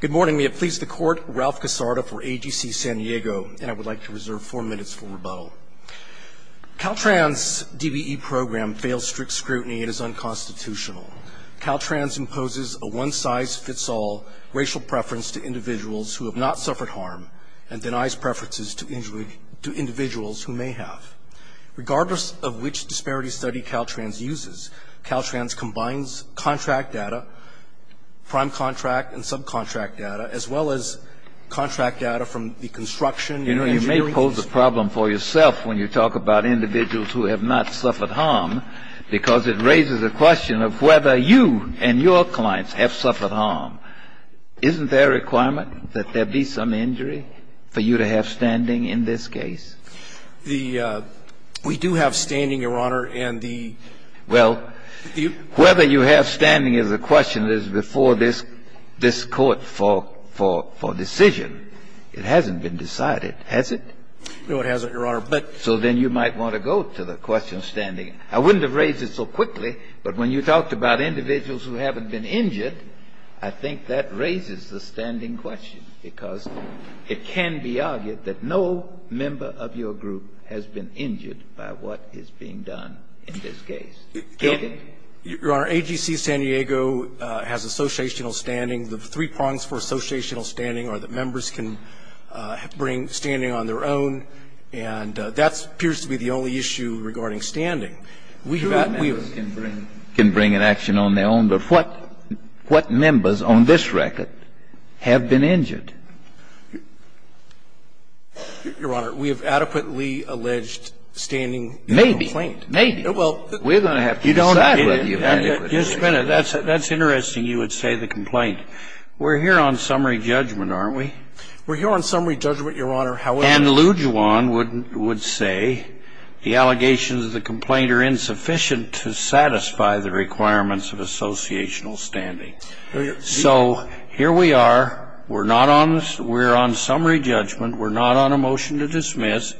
Good morning. May it please the Court, Ralph Casarda for AGC San Diego, and I would like to reserve four minutes for rebuttal. Caltrans' DBE program fails strict scrutiny and is unconstitutional. Caltrans imposes a one-size-fits-all racial preference to individuals who have not suffered harm and denies preferences to individuals who may have. Regardless of which disparity study Caltrans uses, Caltrans combines contract data, prime contract and subcontract data, as well as contract data from the construction and engineering. You know, you may pose a problem for yourself when you talk about individuals who have not suffered harm because it raises a question of whether you and your clients have suffered harm. Isn't there a requirement that there be some injury for you to have standing in this case? The we do have standing, Your Honor, and the Well, whether you have standing is a question that is before this Court for decision. It hasn't been decided, has it? No, it hasn't, Your Honor. So then you might want to go to the question of standing. I wouldn't have raised it so quickly, but when you talked about individuals who haven't been injured, I think that raises the standing question, because it can be argued that no member of your group has been injured by what is being done in this case. Can't it? Your Honor, AGC San Diego has associational standing. The three prongs for associational standing are that members can bring standing on their own, and that appears to be the only issue regarding standing. We have that. Who can bring an action on their own, but what members on this record have been injured? Your Honor, we have adequately alleged standing. Maybe. Maybe. We're going to have to decide whether you have adequately. Just a minute. That's interesting you would say the complaint. We're here on summary judgment, aren't we? We're here on summary judgment, Your Honor, however And Lujuan would say the allegations of the complaint are insufficient to satisfy the requirements of associational standing. So here we are. We're on summary judgment. We're not on a motion to dismiss.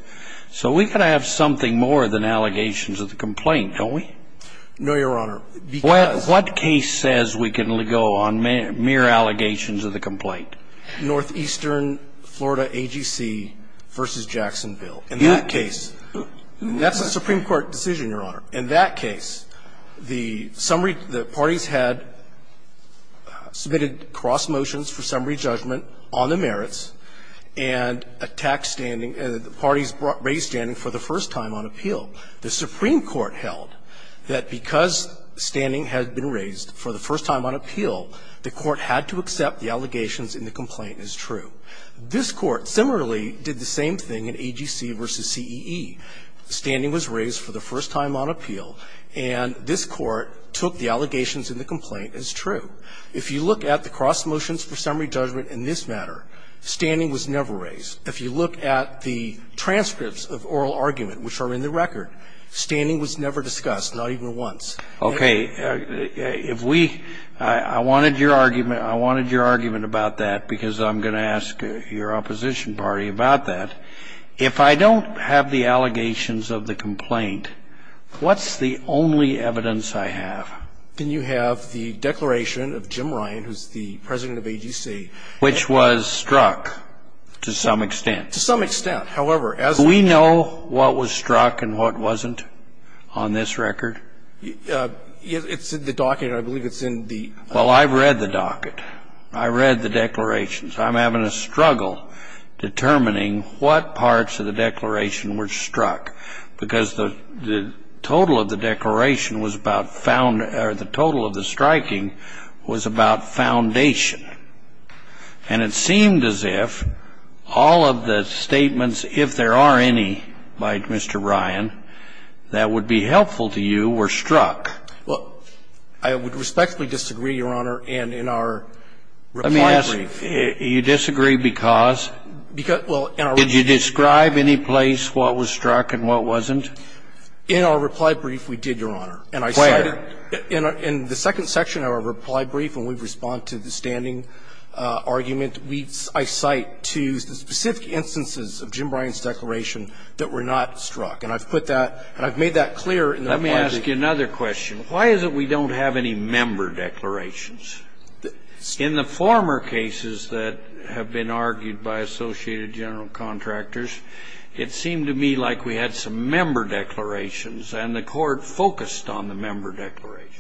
So we've got to have something more than allegations of the complaint, don't we? No, Your Honor. Because What case says we can go on mere allegations of the complaint? Northeastern Florida AGC v. Jacksonville. In that case, that's a Supreme Court decision, Your Honor. In that case, the summary, the parties had submitted cross motions for summary judgment. The Supreme Court held that because standing had been raised for the first time on appeal, the Court had to accept the allegations in the complaint as true. This Court similarly did the same thing in AGC v. CEE. Standing was raised for the first time on appeal, and this Court took the allegations in the complaint as true. If you look at the cross motions for summary judgment in this matter, standing was never raised. If you look at the transcripts of oral argument, which are in the record, standing was never discussed, not even once. Okay. If we – I wanted your argument. I wanted your argument about that because I'm going to ask your opposition party about that. If I don't have the allegations of the complaint, what's the only evidence I have? Then you have the declaration of Jim Ryan, who's the president of AGC. Which was struck to some extent. To some extent. However, as a – Do we know what was struck and what wasn't on this record? It's in the docket. I believe it's in the – Well, I've read the docket. I read the declarations. I'm having a struggle determining what parts of the declaration were struck, because the total of the declaration was about – or the total of the striking was about the strike foundation. And it seemed as if all of the statements, if there are any, by Mr. Ryan, that would be helpful to you, were struck. Well, I would respectfully disagree, Your Honor, and in our reply brief. Let me ask, you disagree because? Because, well, in our – Did you describe any place what was struck and what wasn't? In our reply brief, we did, Your Honor. Where? In our – in the second section of our reply brief, when we respond to the standing argument, we – I cite to the specific instances of Jim Bryan's declaration that were not struck. And I've put that – and I've made that clear in the reply brief. Let me ask you another question. Why is it we don't have any member declarations? In the former cases that have been argued by Associated General Contractors, it seemed to me like we had some member declarations, and the Court focused on the member declarations.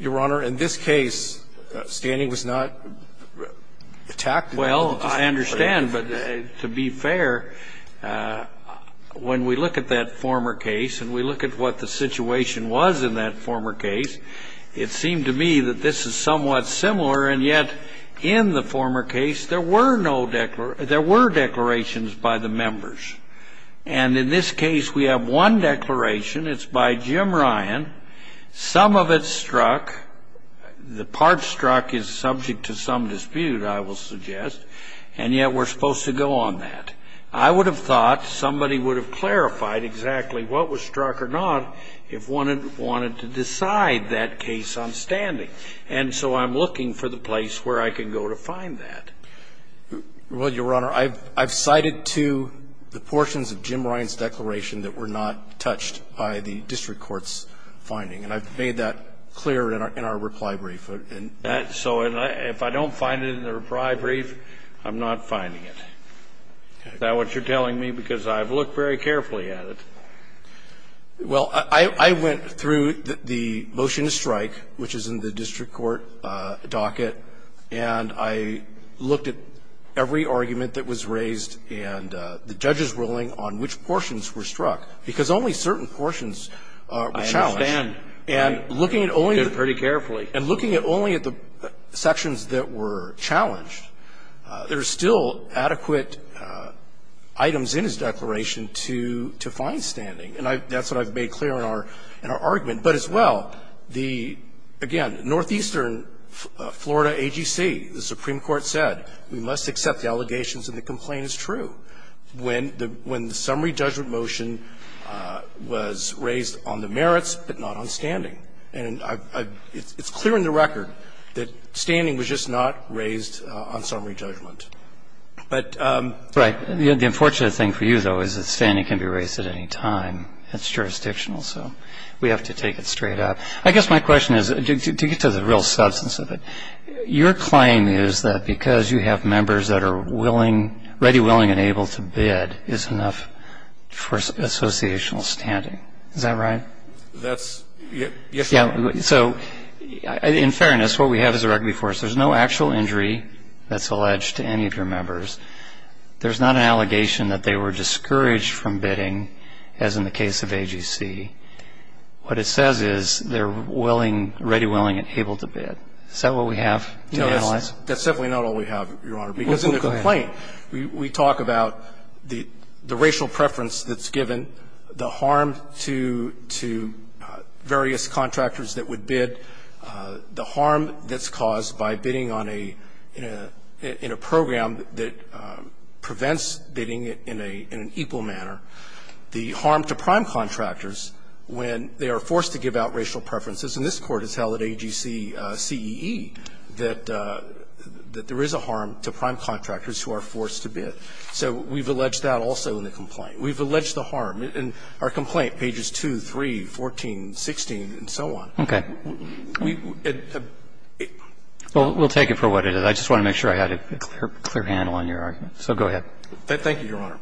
Your Honor, in this case, standing was not attacked. Well, I understand, but to be fair, when we look at that former case and we look at what the situation was in that former case, it seemed to me that this is somewhat similar, and yet in the former case, there were no – there were declarations by the members. And in this case, we have one declaration. It's by Jim Bryan. Some of it struck. The part struck is subject to some dispute, I will suggest, and yet we're supposed to go on that. I would have thought somebody would have clarified exactly what was struck or not if one wanted to decide that case on standing. And so I'm looking for the place where I can go to find that. Well, Your Honor, I've cited two, the portions of Jim Bryan's declaration that were not touched by the district court's finding, and I've made that clear in our reply brief. So if I don't find it in the reply brief, I'm not finding it. Is that what you're telling me? Because I've looked very carefully at it. Well, I went through the motion to strike, which is in the district court docket, and I looked at every argument that was raised and the judge's ruling on which portions were struck, because only certain portions were challenged. I understand. I did pretty carefully. And looking at only at the sections that were challenged, there are still adequate items in his declaration to find standing. And that's what I've made clear in our argument. But as well, the, again, northeastern Florida AGC, the Supreme Court said we must accept the allegations and the complaint is true when the summary judgment motion was raised on the merits, but not on standing. And it's clear in the record that standing was just not raised on summary judgment. Right. The unfortunate thing for you, though, is that standing can be raised at any time. It's jurisdictional, so we have to take it straight up. I guess my question is, to get to the real substance of it, your claim is that because you have members that are ready, willing, and able to bid is enough for associational standing. Is that right? That's yes. So in fairness, what we have is a rugby force. There's no actual injury that's alleged to any of your members. There's not an allegation that they were discouraged from bidding, as in the case of AGC. What it says is they're willing, ready, willing, and able to bid. Is that what we have to analyze? No, that's definitely not all we have, Your Honor, because in the complaint, we talk about the racial preference that's given, the harm to various contractors that would bid, the harm that's caused by bidding on a – in a program that prevents bidding in an equal manner, the harm to prime contractors when they are forced to give out racial preferences. And this Court has held at AGC-CEE that there is a harm to prime contractors who are forced to bid. So we've alleged that also in the complaint. We've alleged the harm. In our complaint, pages 2, 3, 14, 16, and so on. Okay. Well, we'll take it for what it is. I just want to make sure I had a clear handle on your argument. So go ahead. Thank you, Your Honor.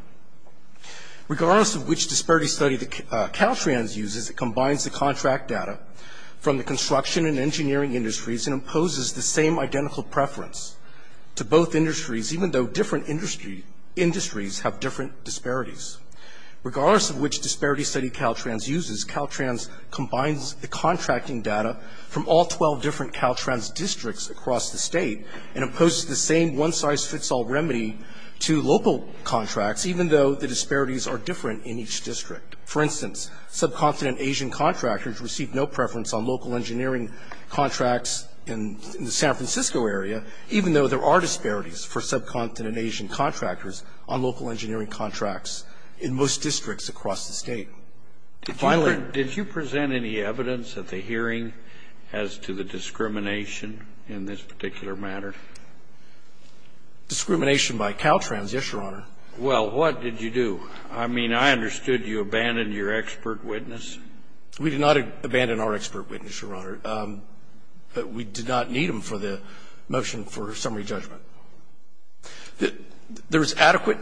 Regardless of which disparity study Caltrans uses, it combines the contract data from the construction and engineering industries and imposes the same identical preference to both industries, even though different industries have different disparities. Regardless of which disparity study Caltrans uses, Caltrans combines the contracting data from all 12 different Caltrans districts across the State and imposes the same one-size-fits-all remedy to local contracts, even though the disparities are different in each district. For instance, subcontinent Asian contractors receive no preference on local engineering contracts in the San Francisco area, even though there are disparities for subcontinent Asian contractors on local engineering contracts in most districts across the State. Did you present any evidence at the hearing as to the discrimination in this particular matter? Discrimination by Caltrans, yes, Your Honor. Well, what did you do? I mean, I understood you abandoned your expert witness. We did not abandon our expert witness, Your Honor. But we did not need him for the motion for summary judgment. There is adequate,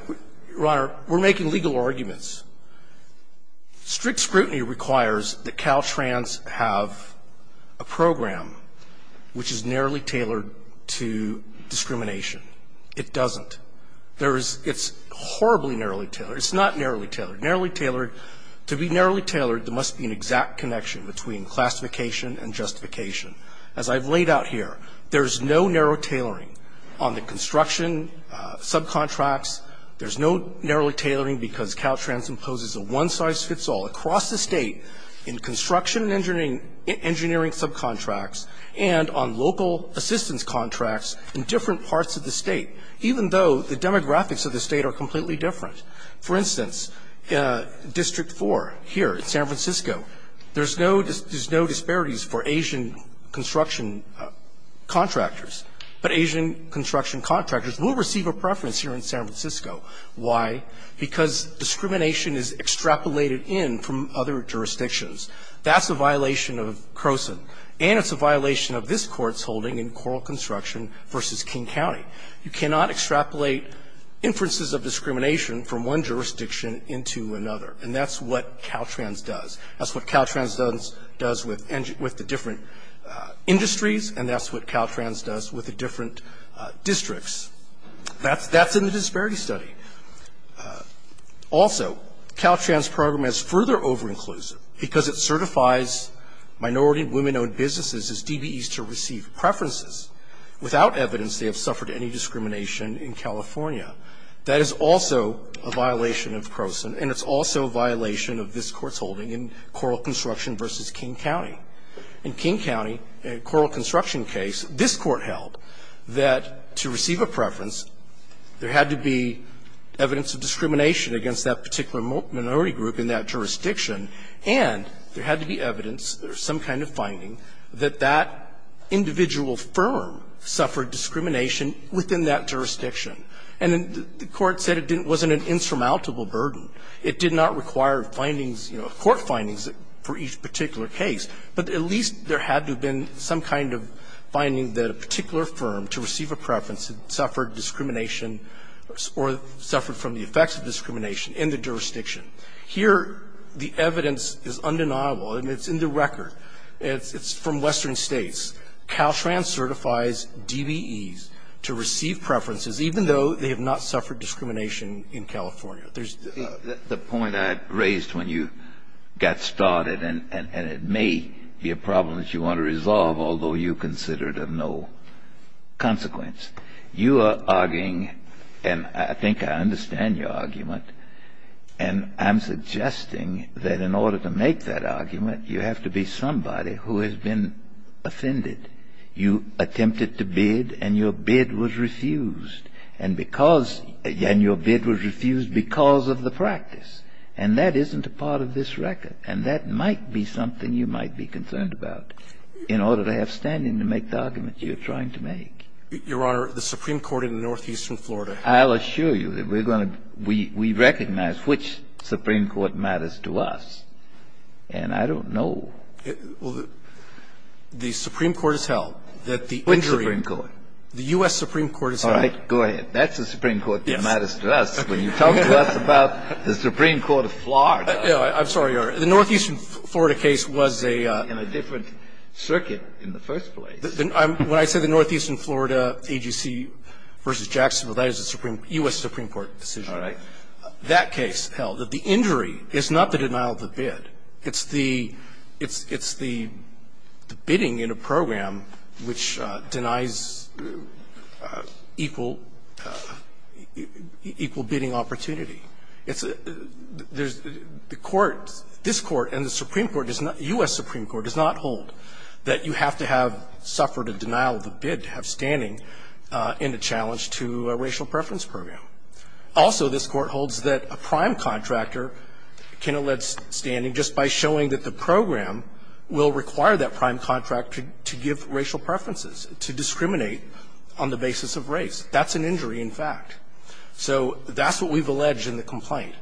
Your Honor, we're making legal arguments. Strict scrutiny requires that Caltrans have a program which is narrowly tailored to discrimination. It doesn't. There is, it's horribly narrowly tailored. It's not narrowly tailored. Narrowly tailored, to be narrowly tailored, there must be an exact connection between classification and justification. As I've laid out here, there's no narrow tailoring on the construction subcontracts. There's no narrowly tailoring because Caltrans imposes a one-size-fits-all across the State in construction engineering subcontracts and on local assistance contracts in different parts of the State, even though the demographics of the State are completely different. For instance, District 4 here in San Francisco, there's no disparities for Asian construction contractors, but Asian construction contractors will receive a preference here in San Francisco. Why? Because discrimination is extrapolated in from other jurisdictions. That's a violation of Croson, and it's a violation of this Court's holding in Coral Construction v. King County. You cannot extrapolate inferences of discrimination from one jurisdiction into another, and that's what Caltrans does. That's what Caltrans does with the different industries, and that's what Caltrans does with the different districts. That's in the disparity study. Also, Caltrans' program is further overinclusive because it certifies minority women-owned businesses as DBEs to receive preferences. Without evidence, they have suffered any discrimination in California. That is also a violation of Croson, and it's also a violation of this Court's holding in Coral Construction v. King County. In King County, Coral Construction case, this Court held that to receive a preference, there had to be evidence of discrimination against that particular minority group in that jurisdiction, and there had to be evidence or some kind of finding that that individual firm suffered discrimination within that jurisdiction. And the Court said it wasn't an insurmountable burden. It did not require findings, you know, court findings for each particular case, but at least there had to have been some kind of finding that a particular firm to receive a preference suffered discrimination or suffered from the effects of discrimination in the jurisdiction. Here, the evidence is undeniable, and it's in the record. It's from Western States. Caltrans certifies DBEs to receive preferences even though they have not suffered discrimination in California. There's the point I had raised when you got started, and it may be a problem that you want to resolve, although you consider it of no consequence. You are arguing, and I think I understand your argument, and I'm suggesting that in order to make that argument, you have to be somebody who has been offended. You attempted to bid, and your bid was refused. And because your bid was refused because of the practice, and that isn't a part of this record, and that might be something you might be concerned about in order to have standing to make the argument you're trying to make. Your Honor, the Supreme Court in northeastern Florida. I'll assure you that we're going to be we recognize which Supreme Court matters to us, and I don't know. Well, the Supreme Court has held that the injury. Which Supreme Court? The U.S. Supreme Court has held. All right. Go ahead. That's the Supreme Court that matters to us. When you talk to us about the Supreme Court of Florida. I'm sorry, Your Honor. The northeastern Florida case was a. In a different circuit in the first place. When I say the northeastern Florida AGC v. Jacksonville, that is a U.S. Supreme Court decision. All right. That case held that the injury is not the denial of the bid. It's the bidding in a program which denies equal bidding opportunity. There's the court, this Court and the Supreme Court, U.S. Supreme Court, does not hold that you have to have suffered a denial of the bid to have standing in a challenge to a racial preference program. Also, this Court holds that a prime contractor can allege standing just by showing that the program will require that prime contractor to give racial preferences, to discriminate on the basis of race. That's an injury, in fact. So that's what we've alleged in the complaint.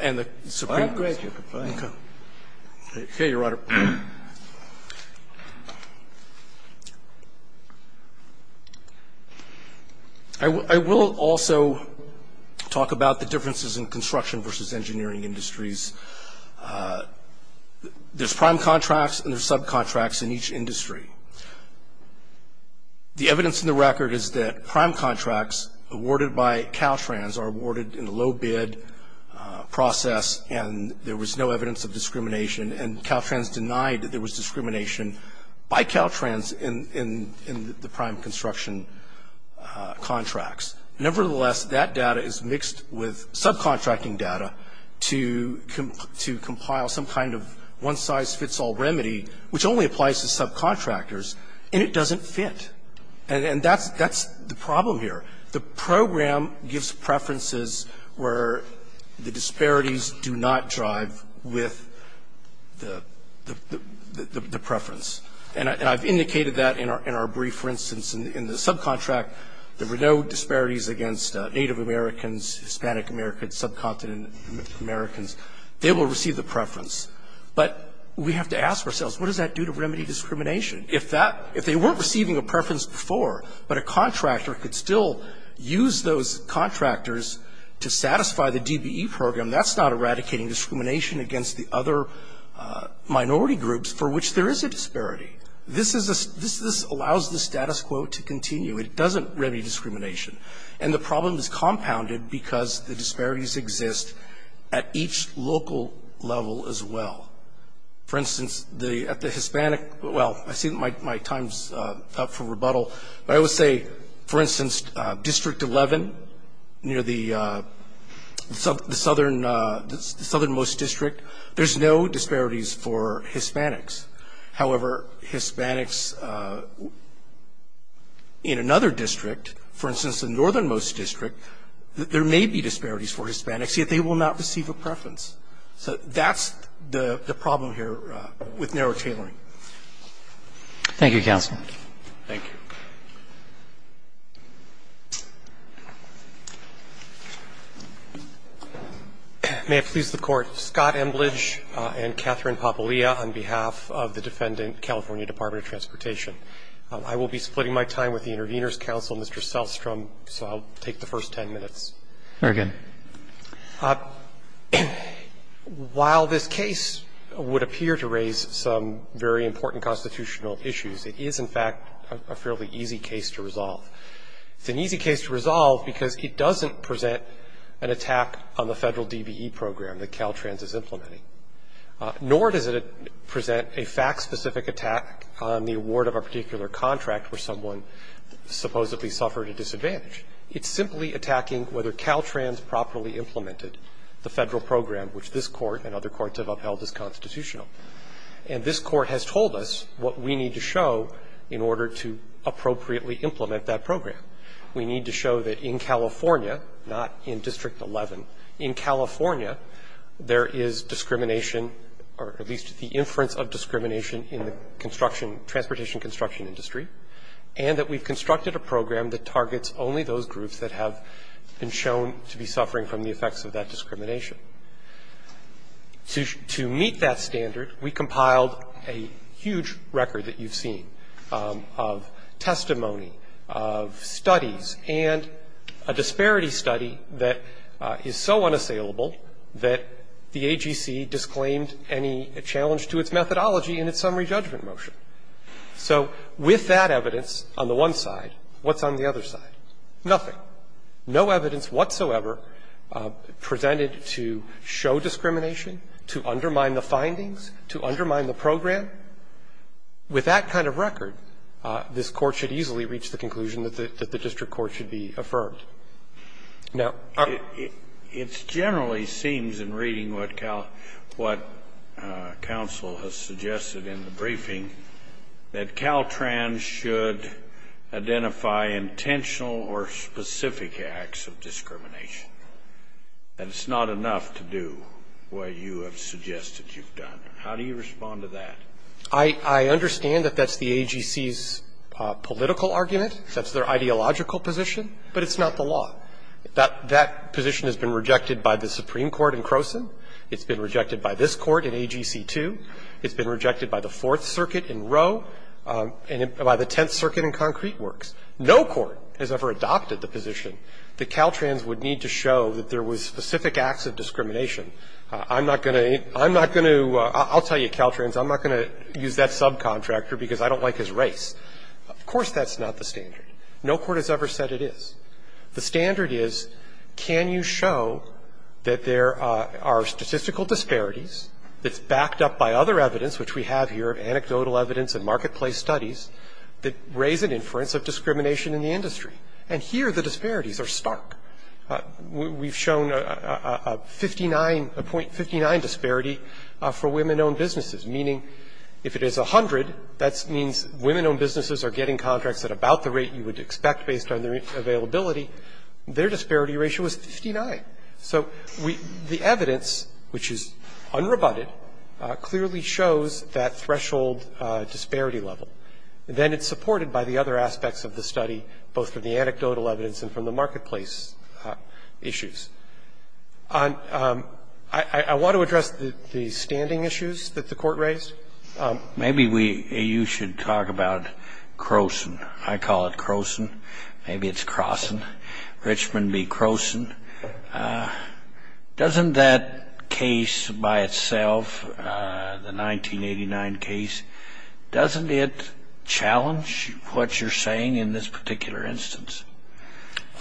And the Supreme Court. All right. Go ahead. Okay. Okay, Your Honor. I will also talk about the differences in construction v. engineering industries. There's prime contracts and there's subcontracts in each industry. The evidence in the record is that prime contracts awarded by Caltrans are awarded in a low bid process and there was no evidence of discrimination. And Caltrans denied that there was discrimination by Caltrans in the prime construction contracts. Nevertheless, that data is mixed with subcontracting data to compile some kind of one-size-fits-all remedy, which only applies to subcontractors, and it doesn't fit. And that's the problem here. The program gives preferences where the disparities do not drive with the preference. And I've indicated that in our brief, for instance, in the subcontract. There were no disparities against Native Americans, Hispanic Americans, subcontinent Americans. They will receive the preference. But we have to ask ourselves, what does that do to remedy discrimination? If that – if they weren't receiving a preference before, but a contractor could still use those contractors to satisfy the DBE program, that's not eradicating discrimination against the other minority groups for which there is a disparity. This is a – this allows the status quo to continue. It doesn't remedy discrimination. And the problem is compounded because the disparities exist at each local level as well. For instance, the – at the Hispanic – well, I see that my time's up for rebuttal. But I would say, for instance, District 11 near the southernmost district, there's no disparities for Hispanics. However, Hispanics in another district, for instance, the northernmost district, there may be disparities for Hispanics, yet they will not receive a preference. So that's the problem here with narrow tailoring. Roberts. Thank you, counsel. Thank you. May it please the Court. Scott Emblidge and Catherine Papalia on behalf of the Defendant California Department of Transportation. I will be splitting my time with the Intervenors' counsel, Mr. Selstrom, so I'll take the first ten minutes. Very good. While this case would appear to raise some very important constitutional issues, it is, in fact, a fairly easy case to resolve. It's an easy case to resolve because it doesn't present an attack on the federal DBE program that Caltrans is implementing, nor does it present a fact-specific attack on the award of a particular contract where someone supposedly suffered a disadvantage. It's simply attacking whether Caltrans properly implemented the federal program which this Court and other courts have upheld as constitutional. And this Court has told us what we need to show in order to appropriately implement that program. We need to show that in California, not in District 11, in California, there is discrimination, or at least the inference of discrimination in the construction, transportation construction industry, and that we've constructed a program that does not violate those groups that have been shown to be suffering from the effects of that discrimination. To meet that standard, we compiled a huge record that you've seen of testimony, of studies, and a disparity study that is so unassailable that the AGC disclaimed any challenge to its methodology in its summary judgment motion. So with that evidence on the one side, what's on the other side? Nothing. No evidence whatsoever presented to show discrimination, to undermine the findings, to undermine the program. With that kind of record, this Court should easily reach the conclusion that the district court should be affirmed. Now, our ---- Scalia. It generally seems in reading what counsel has suggested in the briefing that Caltrans should identify intentional or specific acts of discrimination. That it's not enough to do what you have suggested you've done. How do you respond to that? I understand that that's the AGC's political argument. That's their ideological position. But it's not the law. That position has been rejected by the Supreme Court in Croson. It's been rejected by this Court in AGC 2. It's been rejected by the Fourth Circuit in Roe. And by the Tenth Circuit in Concrete Works. No court has ever adopted the position that Caltrans would need to show that there was specific acts of discrimination. I'm not going to ---- I'm not going to ---- I'll tell you, Caltrans, I'm not going to use that subcontractor because I don't like his race. Of course that's not the standard. No court has ever said it is. which we have here, anecdotal evidence and marketplace studies, that raise an inference of discrimination in the industry. And here the disparities are stark. We've shown a 59, a .59 disparity for women-owned businesses. Meaning if it is 100, that means women-owned businesses are getting contracts at about the rate you would expect based on their availability. Their disparity ratio is 59. Okay. So we ---- the evidence, which is unrebutted, clearly shows that threshold disparity level. Then it's supported by the other aspects of the study, both from the anecdotal evidence and from the marketplace issues. I want to address the standing issues that the Court raised. Maybe we ---- you should talk about Croson. I call it Croson. Maybe it's Crosson. Richmond v. Croson. Doesn't that case by itself, the 1989 case, doesn't it challenge what you're saying in this particular instance?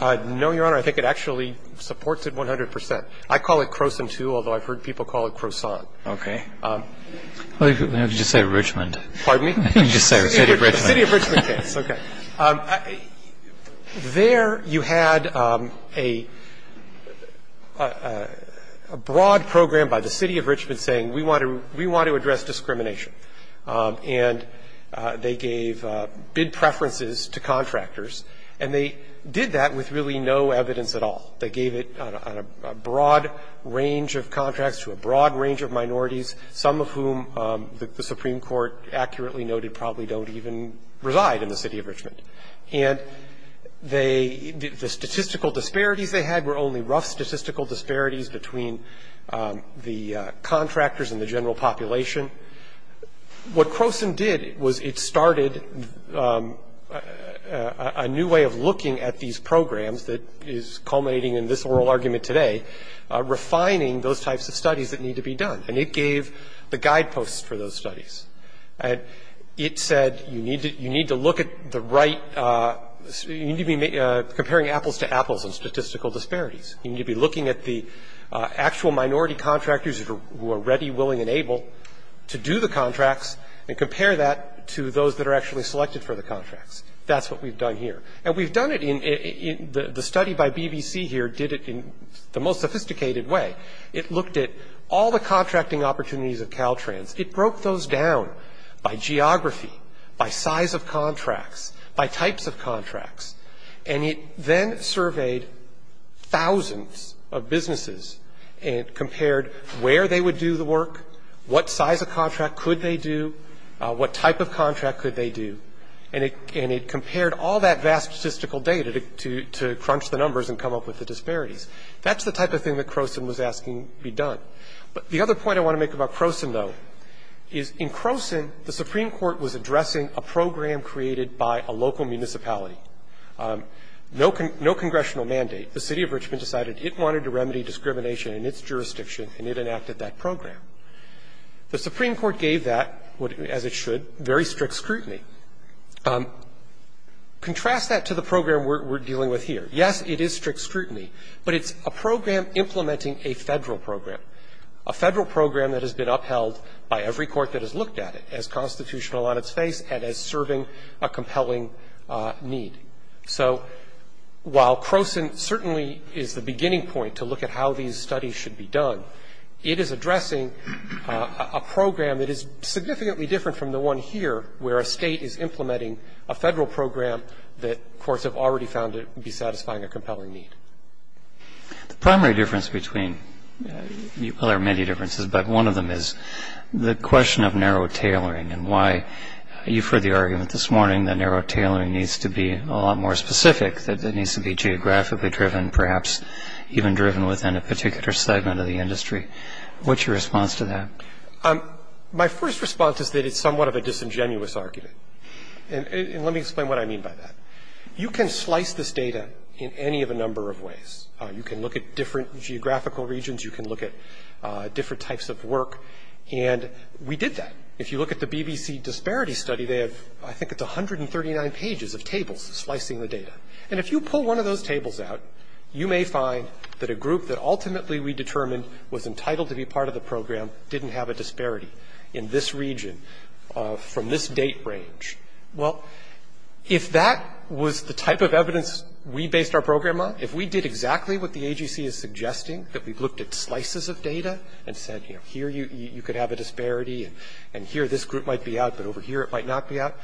No, Your Honor. I think it actually supports it 100 percent. I call it Croson, too, although I've heard people call it Croson. Okay. Why don't you just say Richmond? Pardon me? You can just say the City of Richmond. The City of Richmond case. Okay. There you had a broad program by the City of Richmond saying we want to address discrimination, and they gave bid preferences to contractors, and they did that with really no evidence at all. They gave it on a broad range of contracts to a broad range of minorities, some of whom the Supreme Court accurately noted probably don't even reside in the City of Richmond. And they ---- the statistical disparities they had were only rough statistical disparities between the contractors and the general population. What Croson did was it started a new way of looking at these programs that is culminating in this oral argument today, refining those types of studies that need to be done. And it gave the guideposts for those studies. It said you need to look at the right ---- you need to be comparing apples to apples on statistical disparities. You need to be looking at the actual minority contractors who are ready, willing, and able to do the contracts and compare that to those that are actually selected for the contracts. That's what we've done here. And we've done it in ---- the study by BBC here did it in the most sophisticated way. It looked at all the contracting opportunities of Caltrans. It broke those down by geography, by size of contracts, by types of contracts. And it then surveyed thousands of businesses and compared where they would do the work, what size of contract could they do, what type of contract could they do. And it compared all that vast statistical data to crunch the numbers and come up with the disparities. That's the type of thing that Croson was asking be done. But the other point I want to make about Croson, though, is in Croson, the Supreme Court was addressing a program created by a local municipality. No congressional mandate. The City of Richmond decided it wanted to remedy discrimination in its jurisdiction, and it enacted that program. The Supreme Court gave that, as it should, very strict scrutiny. Contrast that to the program we're dealing with here. Yes, it is strict scrutiny, but it's a program implementing a Federal program, a Federal program that has been upheld by every court that has looked at it as constitutional on its face and as serving a compelling need. So while Croson certainly is the beginning point to look at how these studies should be done, it is addressing a program that is significantly different from the one here where a State is implementing a Federal program that courts have already found to be satisfying a compelling need. The primary difference between, well, there are many differences, but one of them is the question of narrow tailoring and why. You've heard the argument this morning that narrow tailoring needs to be a lot more specific, that it needs to be geographically driven, perhaps even driven within a particular segment of the industry. What's your response to that? My first response is that it's somewhat of a disingenuous argument. And let me explain what I mean by that. You can slice this data in any of a number of ways. You can look at different geographical regions. You can look at different types of work. And we did that. If you look at the BBC disparity study, they have, I think it's 139 pages of tables slicing the data. And if you pull one of those tables out, you may find that a group that ultimately we determined was entitled to be part of the program didn't have a disparity in this region from this date range. Well, if that was the type of evidence we based our program on, if we did exactly what the AGC is suggesting, that we looked at slices of data and said, you know, here you could have a disparity and here this group might be out, but over here it might not be out,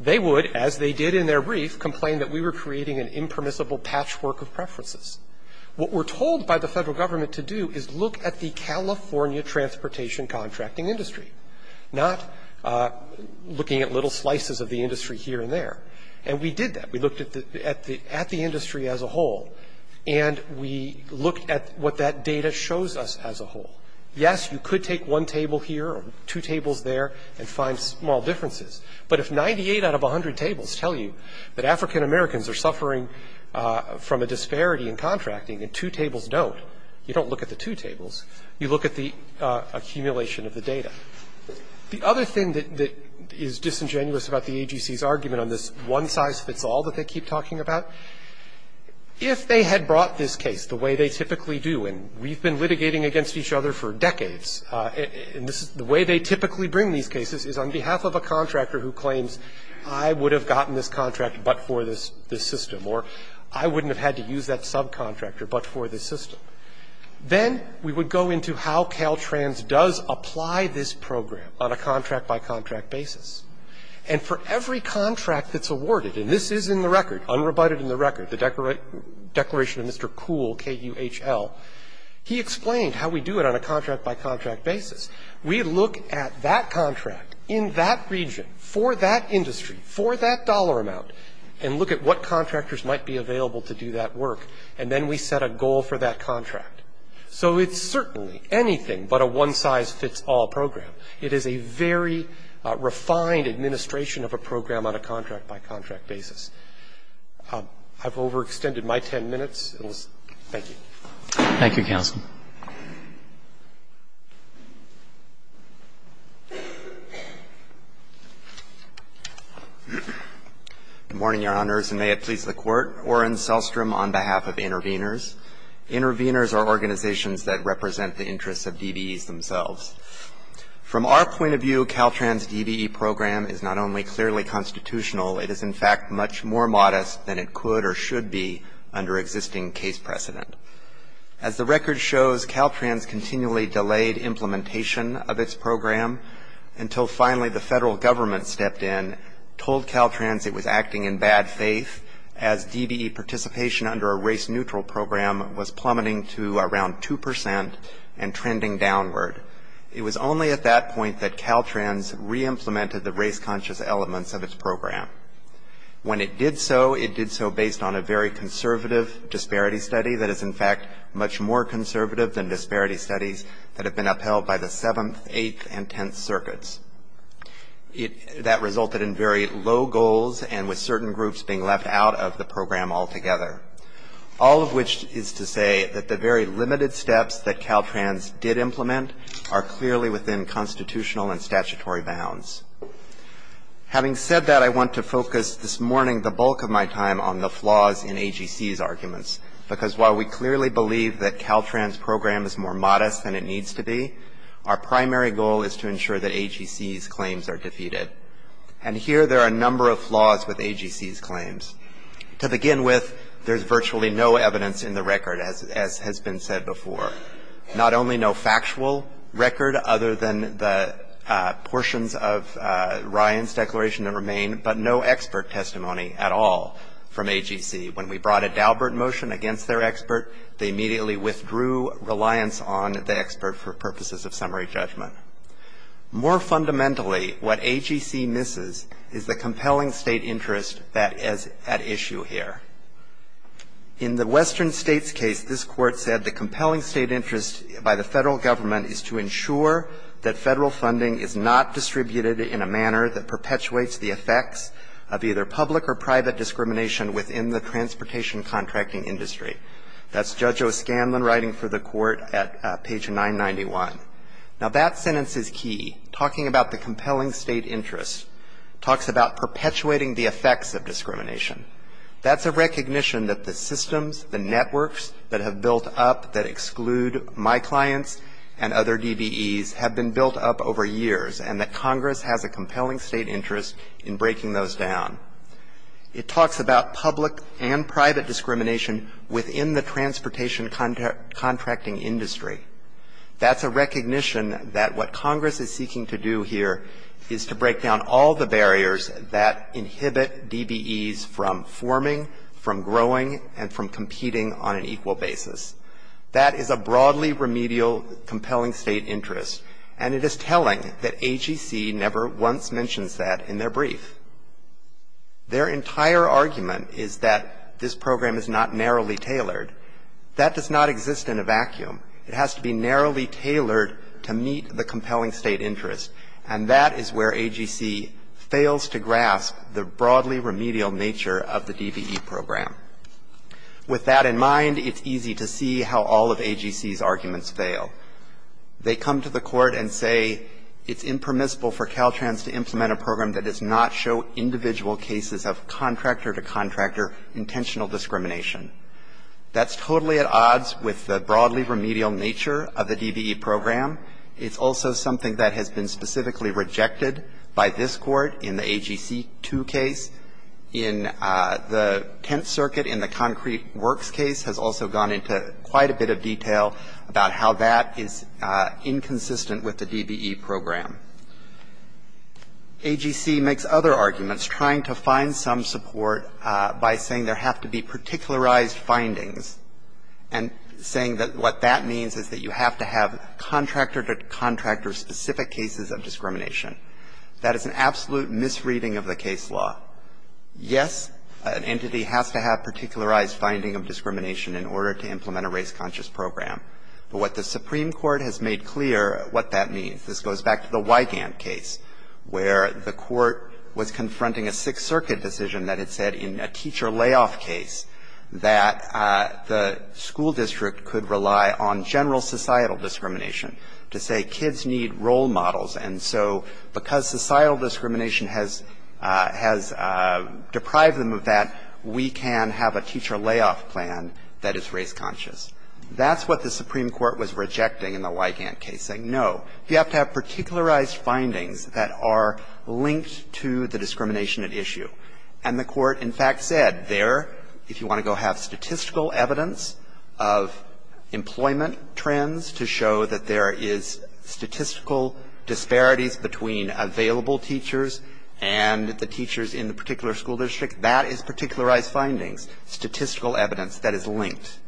they would, as they did in their brief, complain that we were creating an impermissible patchwork of preferences. What we're told by the Federal Government to do is look at the California transportation contracting industry, not looking at little slices of the industry here and there. And we did that. We looked at the industry as a whole. And we looked at what that data shows us as a whole. Yes, you could take one table here or two tables there and find small differences. But if 98 out of 100 tables tell you that African Americans are suffering from a disparity in contracting and two tables don't, you don't look at the two tables. You look at the accumulation of the data. The other thing that is disingenuous about the AGC's argument on this one-size-fits-all that they keep talking about, if they had brought this case the way they typically do, and we've been litigating against each other for decades, and the way they typically bring these cases is on behalf of a contractor who claims I would have gotten this contract but for this system, or I wouldn't have had to use that subcontractor but for this system. Then we would go into how Caltrans does apply this program on a contract-by-contract basis. And for every contract that's awarded, and this is in the record, unrebutted in the record, the Declaration of Mr. Kuhl, K-U-H-L, he explained how we do it on a contract-by-contract basis. We look at that contract in that region for that industry, for that dollar amount, and look at what contractors might be available to do that work. And then we set a goal for that contract. So it's certainly anything but a one-size-fits-all program. It is a very refined administration of a program on a contract-by-contract basis. I've overextended my ten minutes. Thank you. Roberts. Thank you, counsel. Good morning, Your Honors, and may it please the Court. My name is Robert Oren Selstrom on behalf of Intervenors. Intervenors are organizations that represent the interests of DBEs themselves. From our point of view, Caltrans' DBE program is not only clearly constitutional, it is in fact much more modest than it could or should be under existing case precedent. As the record shows, Caltrans continually delayed implementation of its program until finally the federal government stepped in, told Caltrans it was acting in bad faith as DBE participation under a race-neutral program was plummeting to around 2% and trending downward. It was only at that point that Caltrans reimplemented the race-conscious elements of its program. When it did so, it did so based on a very conservative disparity study that is, in fact, much more conservative than disparity studies that have been upheld by the 7th, 8th, and 10th circuits. That resulted in very low goals and with certain groups being left out of the program altogether. All of which is to say that the very limited steps that Caltrans did implement are clearly within constitutional and statutory bounds. Having said that, I want to focus this morning the bulk of my time on the flaws in AGC's arguments, because while we clearly believe that Caltrans' program is more effective than DBE's, there are a number of flaws with AGC's claims. To begin with, there's virtually no evidence in the record, as has been said before. Not only no factual record other than the portions of Ryan's declaration that remain, but no expert testimony at all from AGC. When we brought a Daubert motion against their expert, they immediately withdrew reliance on the expert for purposes of summary judgment. More fundamentally, what AGC misses is the compelling state interest that is at issue here. In the Western States case, this Court said the compelling state interest by the Federal Government is to ensure that Federal funding is not distributed in a manner that perpetuates the effects of either public or private discrimination within the transportation contracting industry. That's Judge O'Scanlan writing for the Court at page 991. Now, that sentence is key, talking about the compelling state interest, talks about perpetuating the effects of discrimination. That's a recognition that the systems, the networks that have built up that exclude my clients and other DBEs have been built up over years, and that Congress has a compelling state interest in breaking those down. It talks about public and private discrimination within the transportation contracting industry. That's a recognition that what Congress is seeking to do here is to break down all the barriers that inhibit DBEs from forming, from growing, and from competing on an equal basis. That is a broadly remedial compelling state interest, and it is telling that AGC never once mentions that in their brief. Their entire argument is that this program is not narrowly tailored. That does not exist in a vacuum. It has to be narrowly tailored to meet the compelling state interest, and that is where AGC fails to grasp the broadly remedial nature of the DBE program. With that in mind, it's easy to see how all of AGC's arguments fail. They come to the Court and say it's impermissible for Caltrans to implement a program that does not show individual cases of contractor-to-contractor intentional discrimination. That's totally at odds with the broadly remedial nature of the DBE program. It's also something that has been specifically rejected by this Court in the AGC 2 case. In the Tenth Circuit, in the Concrete Works case, has also gone into quite a bit of detail about how that is inconsistent with the DBE program. AGC makes other arguments trying to find some support by saying there have to be particular ized findings and saying that what that means is that you have to have contractor-to-contractor specific cases of discrimination. That is an absolute misreading of the case law. Yes, an entity has to have particularized finding of discrimination in order to implement a race-conscious program, but what the Supreme Court has made clear what that means this goes back to the Wigand case where the Court was confronting a Sixth Circuit decision that had said in a teacher layoff case that the school district could rely on general societal discrimination to say kids need role models, and so because societal discrimination has deprived them of that, we can have a teacher layoff plan that is race-conscious. That's what the Supreme Court was rejecting in the Wigand case, saying no, you have to have particularized findings that are linked to the discrimination at issue, and the Court in fact said there, if you want to go have statistical evidence of employment trends to show that there is statistical disparities between available teachers and the teachers in the particular school district, that is particularized findings, statistical evidence that is linked.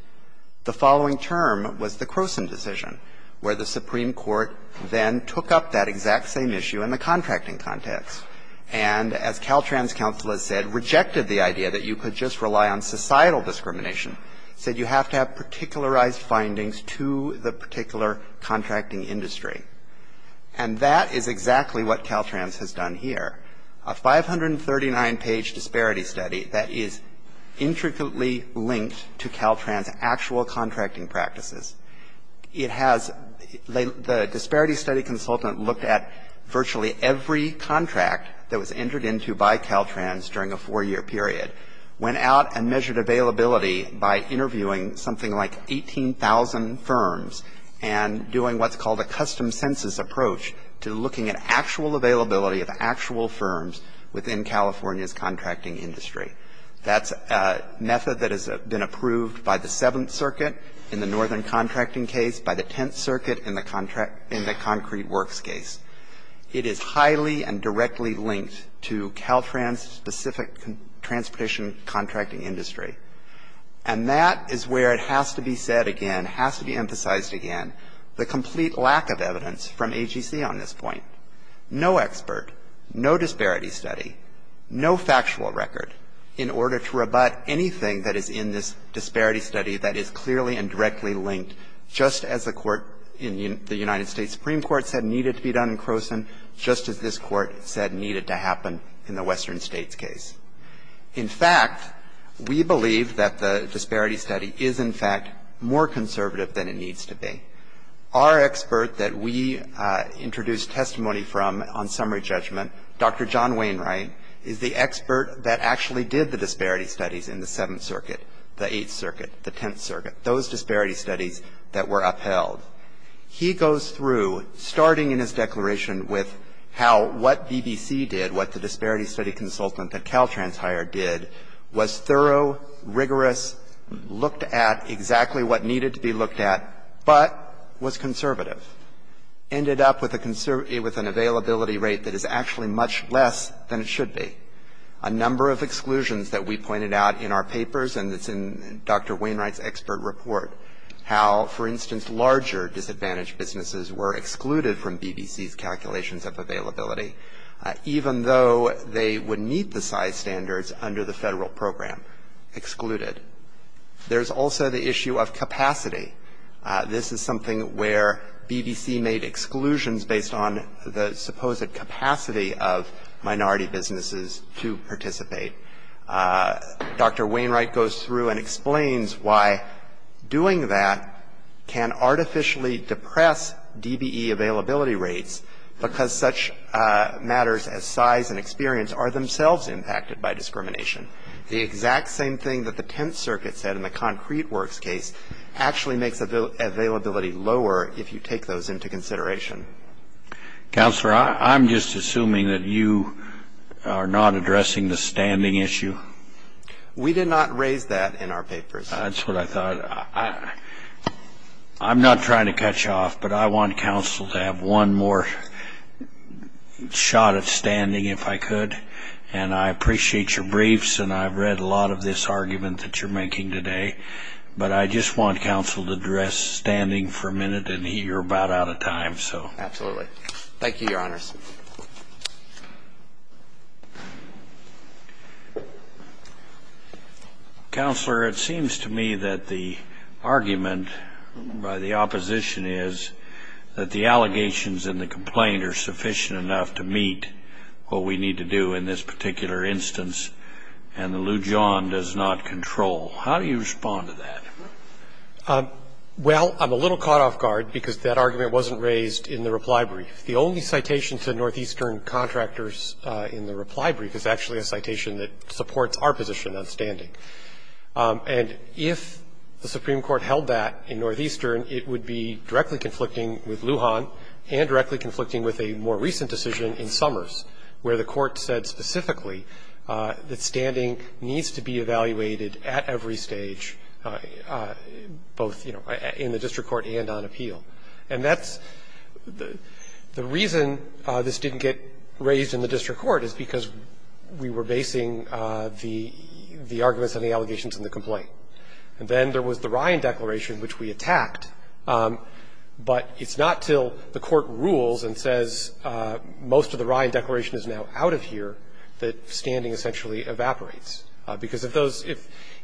The following term was the Croson decision where the Supreme Court then took up that exact same issue in the contracting context and, as Caltrans counsel has said, rejected the idea that you could just rely on societal discrimination, said you have to have particularized findings to the particular contracting industry. And that is exactly what Caltrans has done here, a 539-page disparity study that is intricately linked to Caltrans' actual contracting practices. It has the disparity study consultant look at virtually every contract that was entered into by Caltrans during a four-year period, went out and measured availability by interviewing something like 18,000 firms and doing what's called a custom census approach to looking at actual availability of actual firms within California's district. That's a method that has been approved by the Seventh Circuit in the northern contracting case, by the Tenth Circuit in the concrete works case. It is highly and directly linked to Caltrans' specific transportation contracting industry. And that is where it has to be said again, has to be emphasized again, the complete lack of evidence from AGC on this point. No expert, no disparity study, no factual record in order to rebut anything that is in this disparity study that is clearly and directly linked just as the court in the United States Supreme Court said needed to be done in Croson, just as this Court said needed to happen in the Western States case. In fact, we believe that the disparity study is, in fact, more conservative than it needs to be. Our expert that we introduced testimony from on summary judgment, Dr. John Wainwright, is the expert that actually did the disparity studies in the Seventh Circuit, the Eighth Circuit, the Tenth Circuit, those disparity studies that were upheld. He goes through, starting in his declaration with how what BBC did, what the disparity study consultant that Caltrans hired did, was thorough, rigorous, looked at exactly what needed to be looked at, but was conservative, ended up with an availability rate that is actually much less than it should be, a number of exclusions that we pointed out in our papers and it's in Dr. Wainwright's expert report, how, for instance, larger disadvantaged businesses were excluded from BBC's calculations of availability, even though they would meet the size standards under the Federal program, excluded. There's also the issue of capacity. This is something where BBC made exclusions based on the supposed capacity of minority businesses to participate. Dr. Wainwright goes through and explains why doing that can artificially depress DBE availability rates because such matters as size and experience are themselves impacted by discrimination. The exact same thing that the Tenth Circuit said in the Concrete Works case actually makes availability lower if you take those into consideration. Scalia. Counselor, I'm just assuming that you are not addressing the standing issue. We did not raise that in our papers. That's what I thought. I'm not trying to cut you off, but I want counsel to have one more shot at standing if I could. And I appreciate your briefs and I've read a lot of this argument that you're making today, but I just want counsel to address standing for a minute and you're about out of time. Absolutely. Thank you, Your Honors. Counselor, it seems to me that the argument by the opposition is that the allegations in the complaint are sufficient enough to meet what we need to do in this particular instance, and the Lujan does not control. How do you respond to that? Well, I'm a little caught off guard because that argument wasn't raised in the reply brief. The only citation to Northeastern contractors in the reply brief is actually a citation that supports our position on standing. And if the Supreme Court held that in Northeastern, it would be directly conflicting with Lujan and directly conflicting with a more recent decision in Summers, where the Court said specifically that standing needs to be evaluated at every stage, both in the district court and on appeal. And that's the reason this didn't get raised in the district court is because we were basing the arguments and the allegations on the complaint. And then there was the Ryan Declaration, which we attacked, but it's not until the Court rules and says most of the Ryan Declaration is now out of here that standing essentially evaporates, because if those –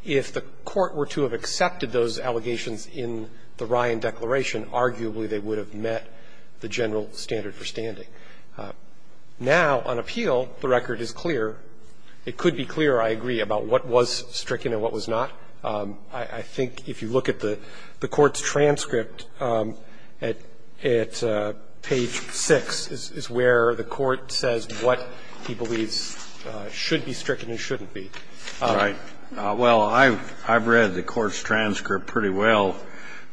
if the Court were to have accepted those allegations in the Ryan Declaration, arguably they would have met the general standard for standing. Now, on appeal, the record is clear. It could be clearer, I agree, about what was stricken and what was not. I think if you look at the Court's transcript at page 6 is where the Court says what he believes should be stricken and shouldn't be. All right. Well, I've read the Court's transcript pretty well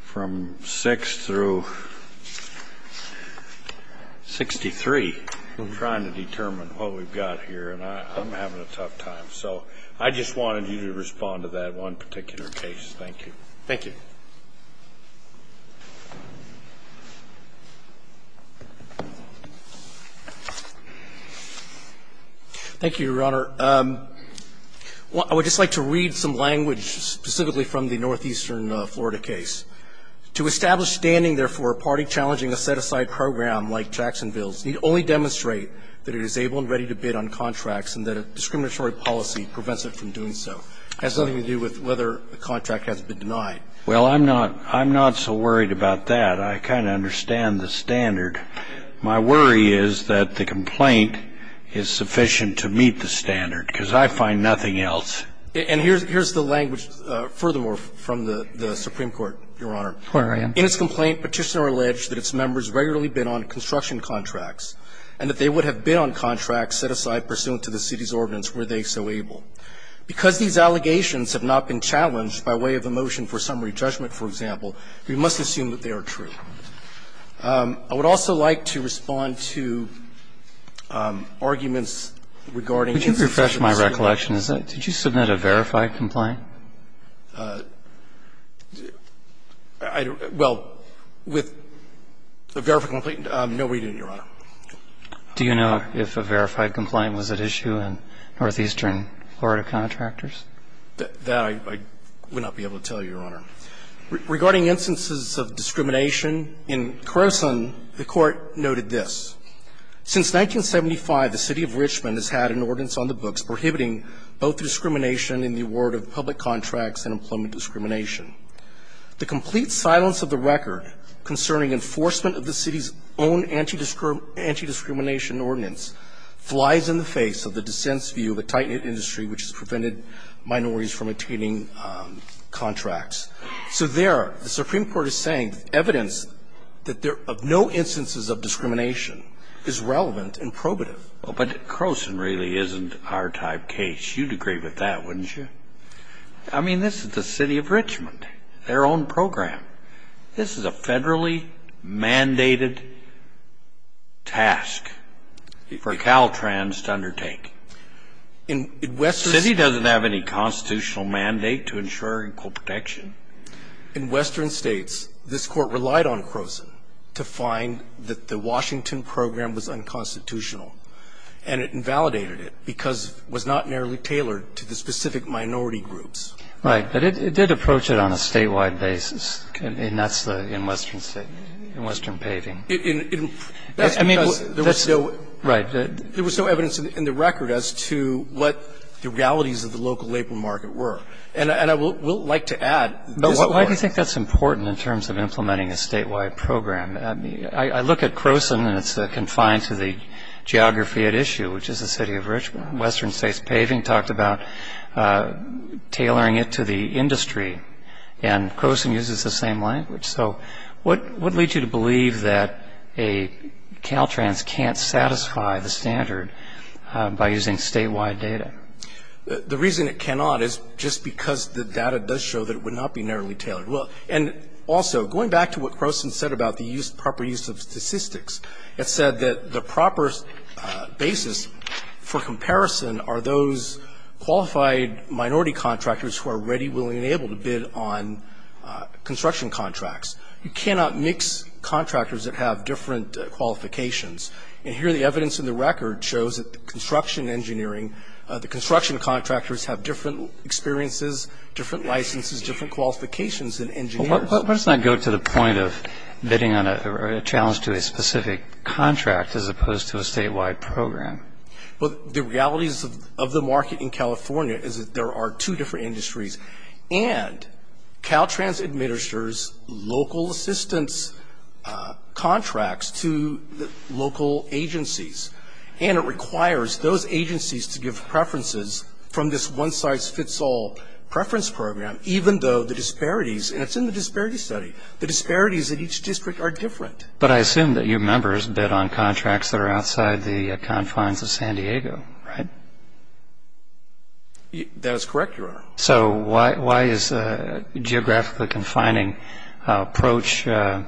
from 6 through 63, trying to determine what we've got here, and I'm having a tough time. So I just wanted you to respond to that one particular case. Thank you. Thank you. Thank you, Your Honor. I would just like to read some language specifically from the northeastern Florida case. To establish standing, therefore, a party challenging a set-aside program like Jacksonville's need only demonstrate that it is able and ready to bid on contracts and that a discriminatory policy prevents it from doing so. It has nothing to do with whether a contract has been denied. Well, I'm not so worried about that. I kind of understand the standard. My worry is that the complaint is sufficient to meet the standard, because I find nothing else. And here's the language furthermore from the Supreme Court, Your Honor. Where are you? In its complaint, Petitioner alleged that its members regularly bid on construction contracts and that they would have bid on contracts set aside pursuant to the city's ordinance were they so able. Because these allegations have not been challenged by way of a motion for summary judgment, for example, we must assume that they are true. I would also like to respond to arguments regarding instances of discrimination. Would you refresh my recollection? Did you submit a verified complaint? Well, with a verified complaint, no, we didn't, Your Honor. Do you know if a verified complaint was at issue in northeastern Florida contractors? No, Your Honor. Regarding instances of discrimination, in Croson, the Court noted this. Since 1975, the City of Richmond has had an ordinance on the books prohibiting both discrimination in the award of public contracts and employment discrimination. The complete silence of the record concerning enforcement of the city's own anti-discrimination ordinance flies in the face of the dissent's view of a tight-knit industry which has prevented minorities from obtaining contracts. So there, the Supreme Court is saying evidence that there are no instances of discrimination is relevant and probative. But Croson really isn't our type case. You'd agree with that, wouldn't you? I mean, this is the City of Richmond, their own program. This is a federally mandated task for Caltrans to undertake. In western States, this Court relied on Croson to find that the Washington program was unconstitutional, and it invalidated it because it was not narrowly tailored to the specific minority groups. Right. But it did approach it on a statewide basis. And that's in western state, in western paving. That's because there was no. Right. There was no evidence in the record as to what the realities of the local labor market were. And I will like to add. Why do you think that's important in terms of implementing a statewide program? I mean, I look at Croson and it's confined to the geography at issue, which is the City of Richmond. Western States Paving talked about tailoring it to the industry. And Croson uses the same language. So what leads you to believe that Caltrans can't satisfy the standard by using statewide data? The reason it cannot is just because the data does show that it would not be narrowly tailored. And also, going back to what Croson said about the proper use of statistics, it said that the proper basis for comparison are those qualified minority contractors who are ready, willing, and able to bid on construction contracts. You cannot mix contractors that have different qualifications. And here the evidence in the record shows that construction engineering, the construction contractors have different experiences, different licenses, different qualifications than engineers. But let's not go to the point of bidding on a challenge to a specific contract as opposed to a statewide program. Well, the realities of the market in California is that there are two different industries. And Caltrans administers local assistance contracts to local agencies. And it requires those agencies to give preferences from this one-size-fits-all preference program, even though the disparities, and it's in the disparity study, the disparities at each district are different. But I assume that your members bid on contracts that are outside the confines of San Diego, right? That is correct, Your Honor. So why is a geographically confining approach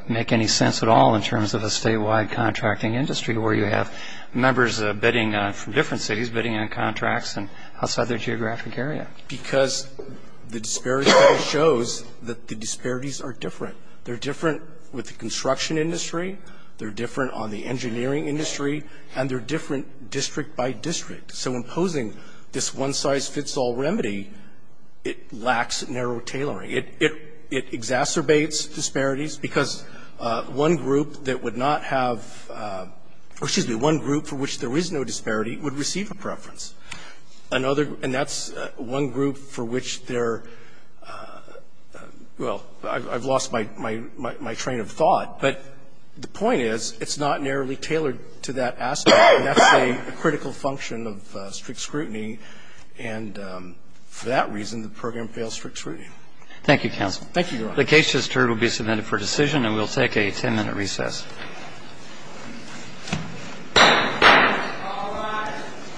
make any sense at all in terms of a statewide contracting industry where you have members bidding from different cities, bidding on contracts outside their geographic area? Because the disparity study shows that the disparities are different. They're different with the construction industry. They're different on the engineering industry. And they're different district by district. So imposing this one-size-fits-all remedy, it lacks narrow tailoring. It exacerbates disparities because one group that would not have or, excuse me, one group for which there is no disparity would receive a preference. And that's one group for which there are, well, I've lost my train of thought. But the point is it's not narrowly tailored to that aspect. And that's a critical function of strict scrutiny. And for that reason, the program fails strict scrutiny. Thank you, counsel. Thank you, Your Honor. The case just heard will be submitted for decision. And we'll take a ten-minute recess. Thank you, Your Honor.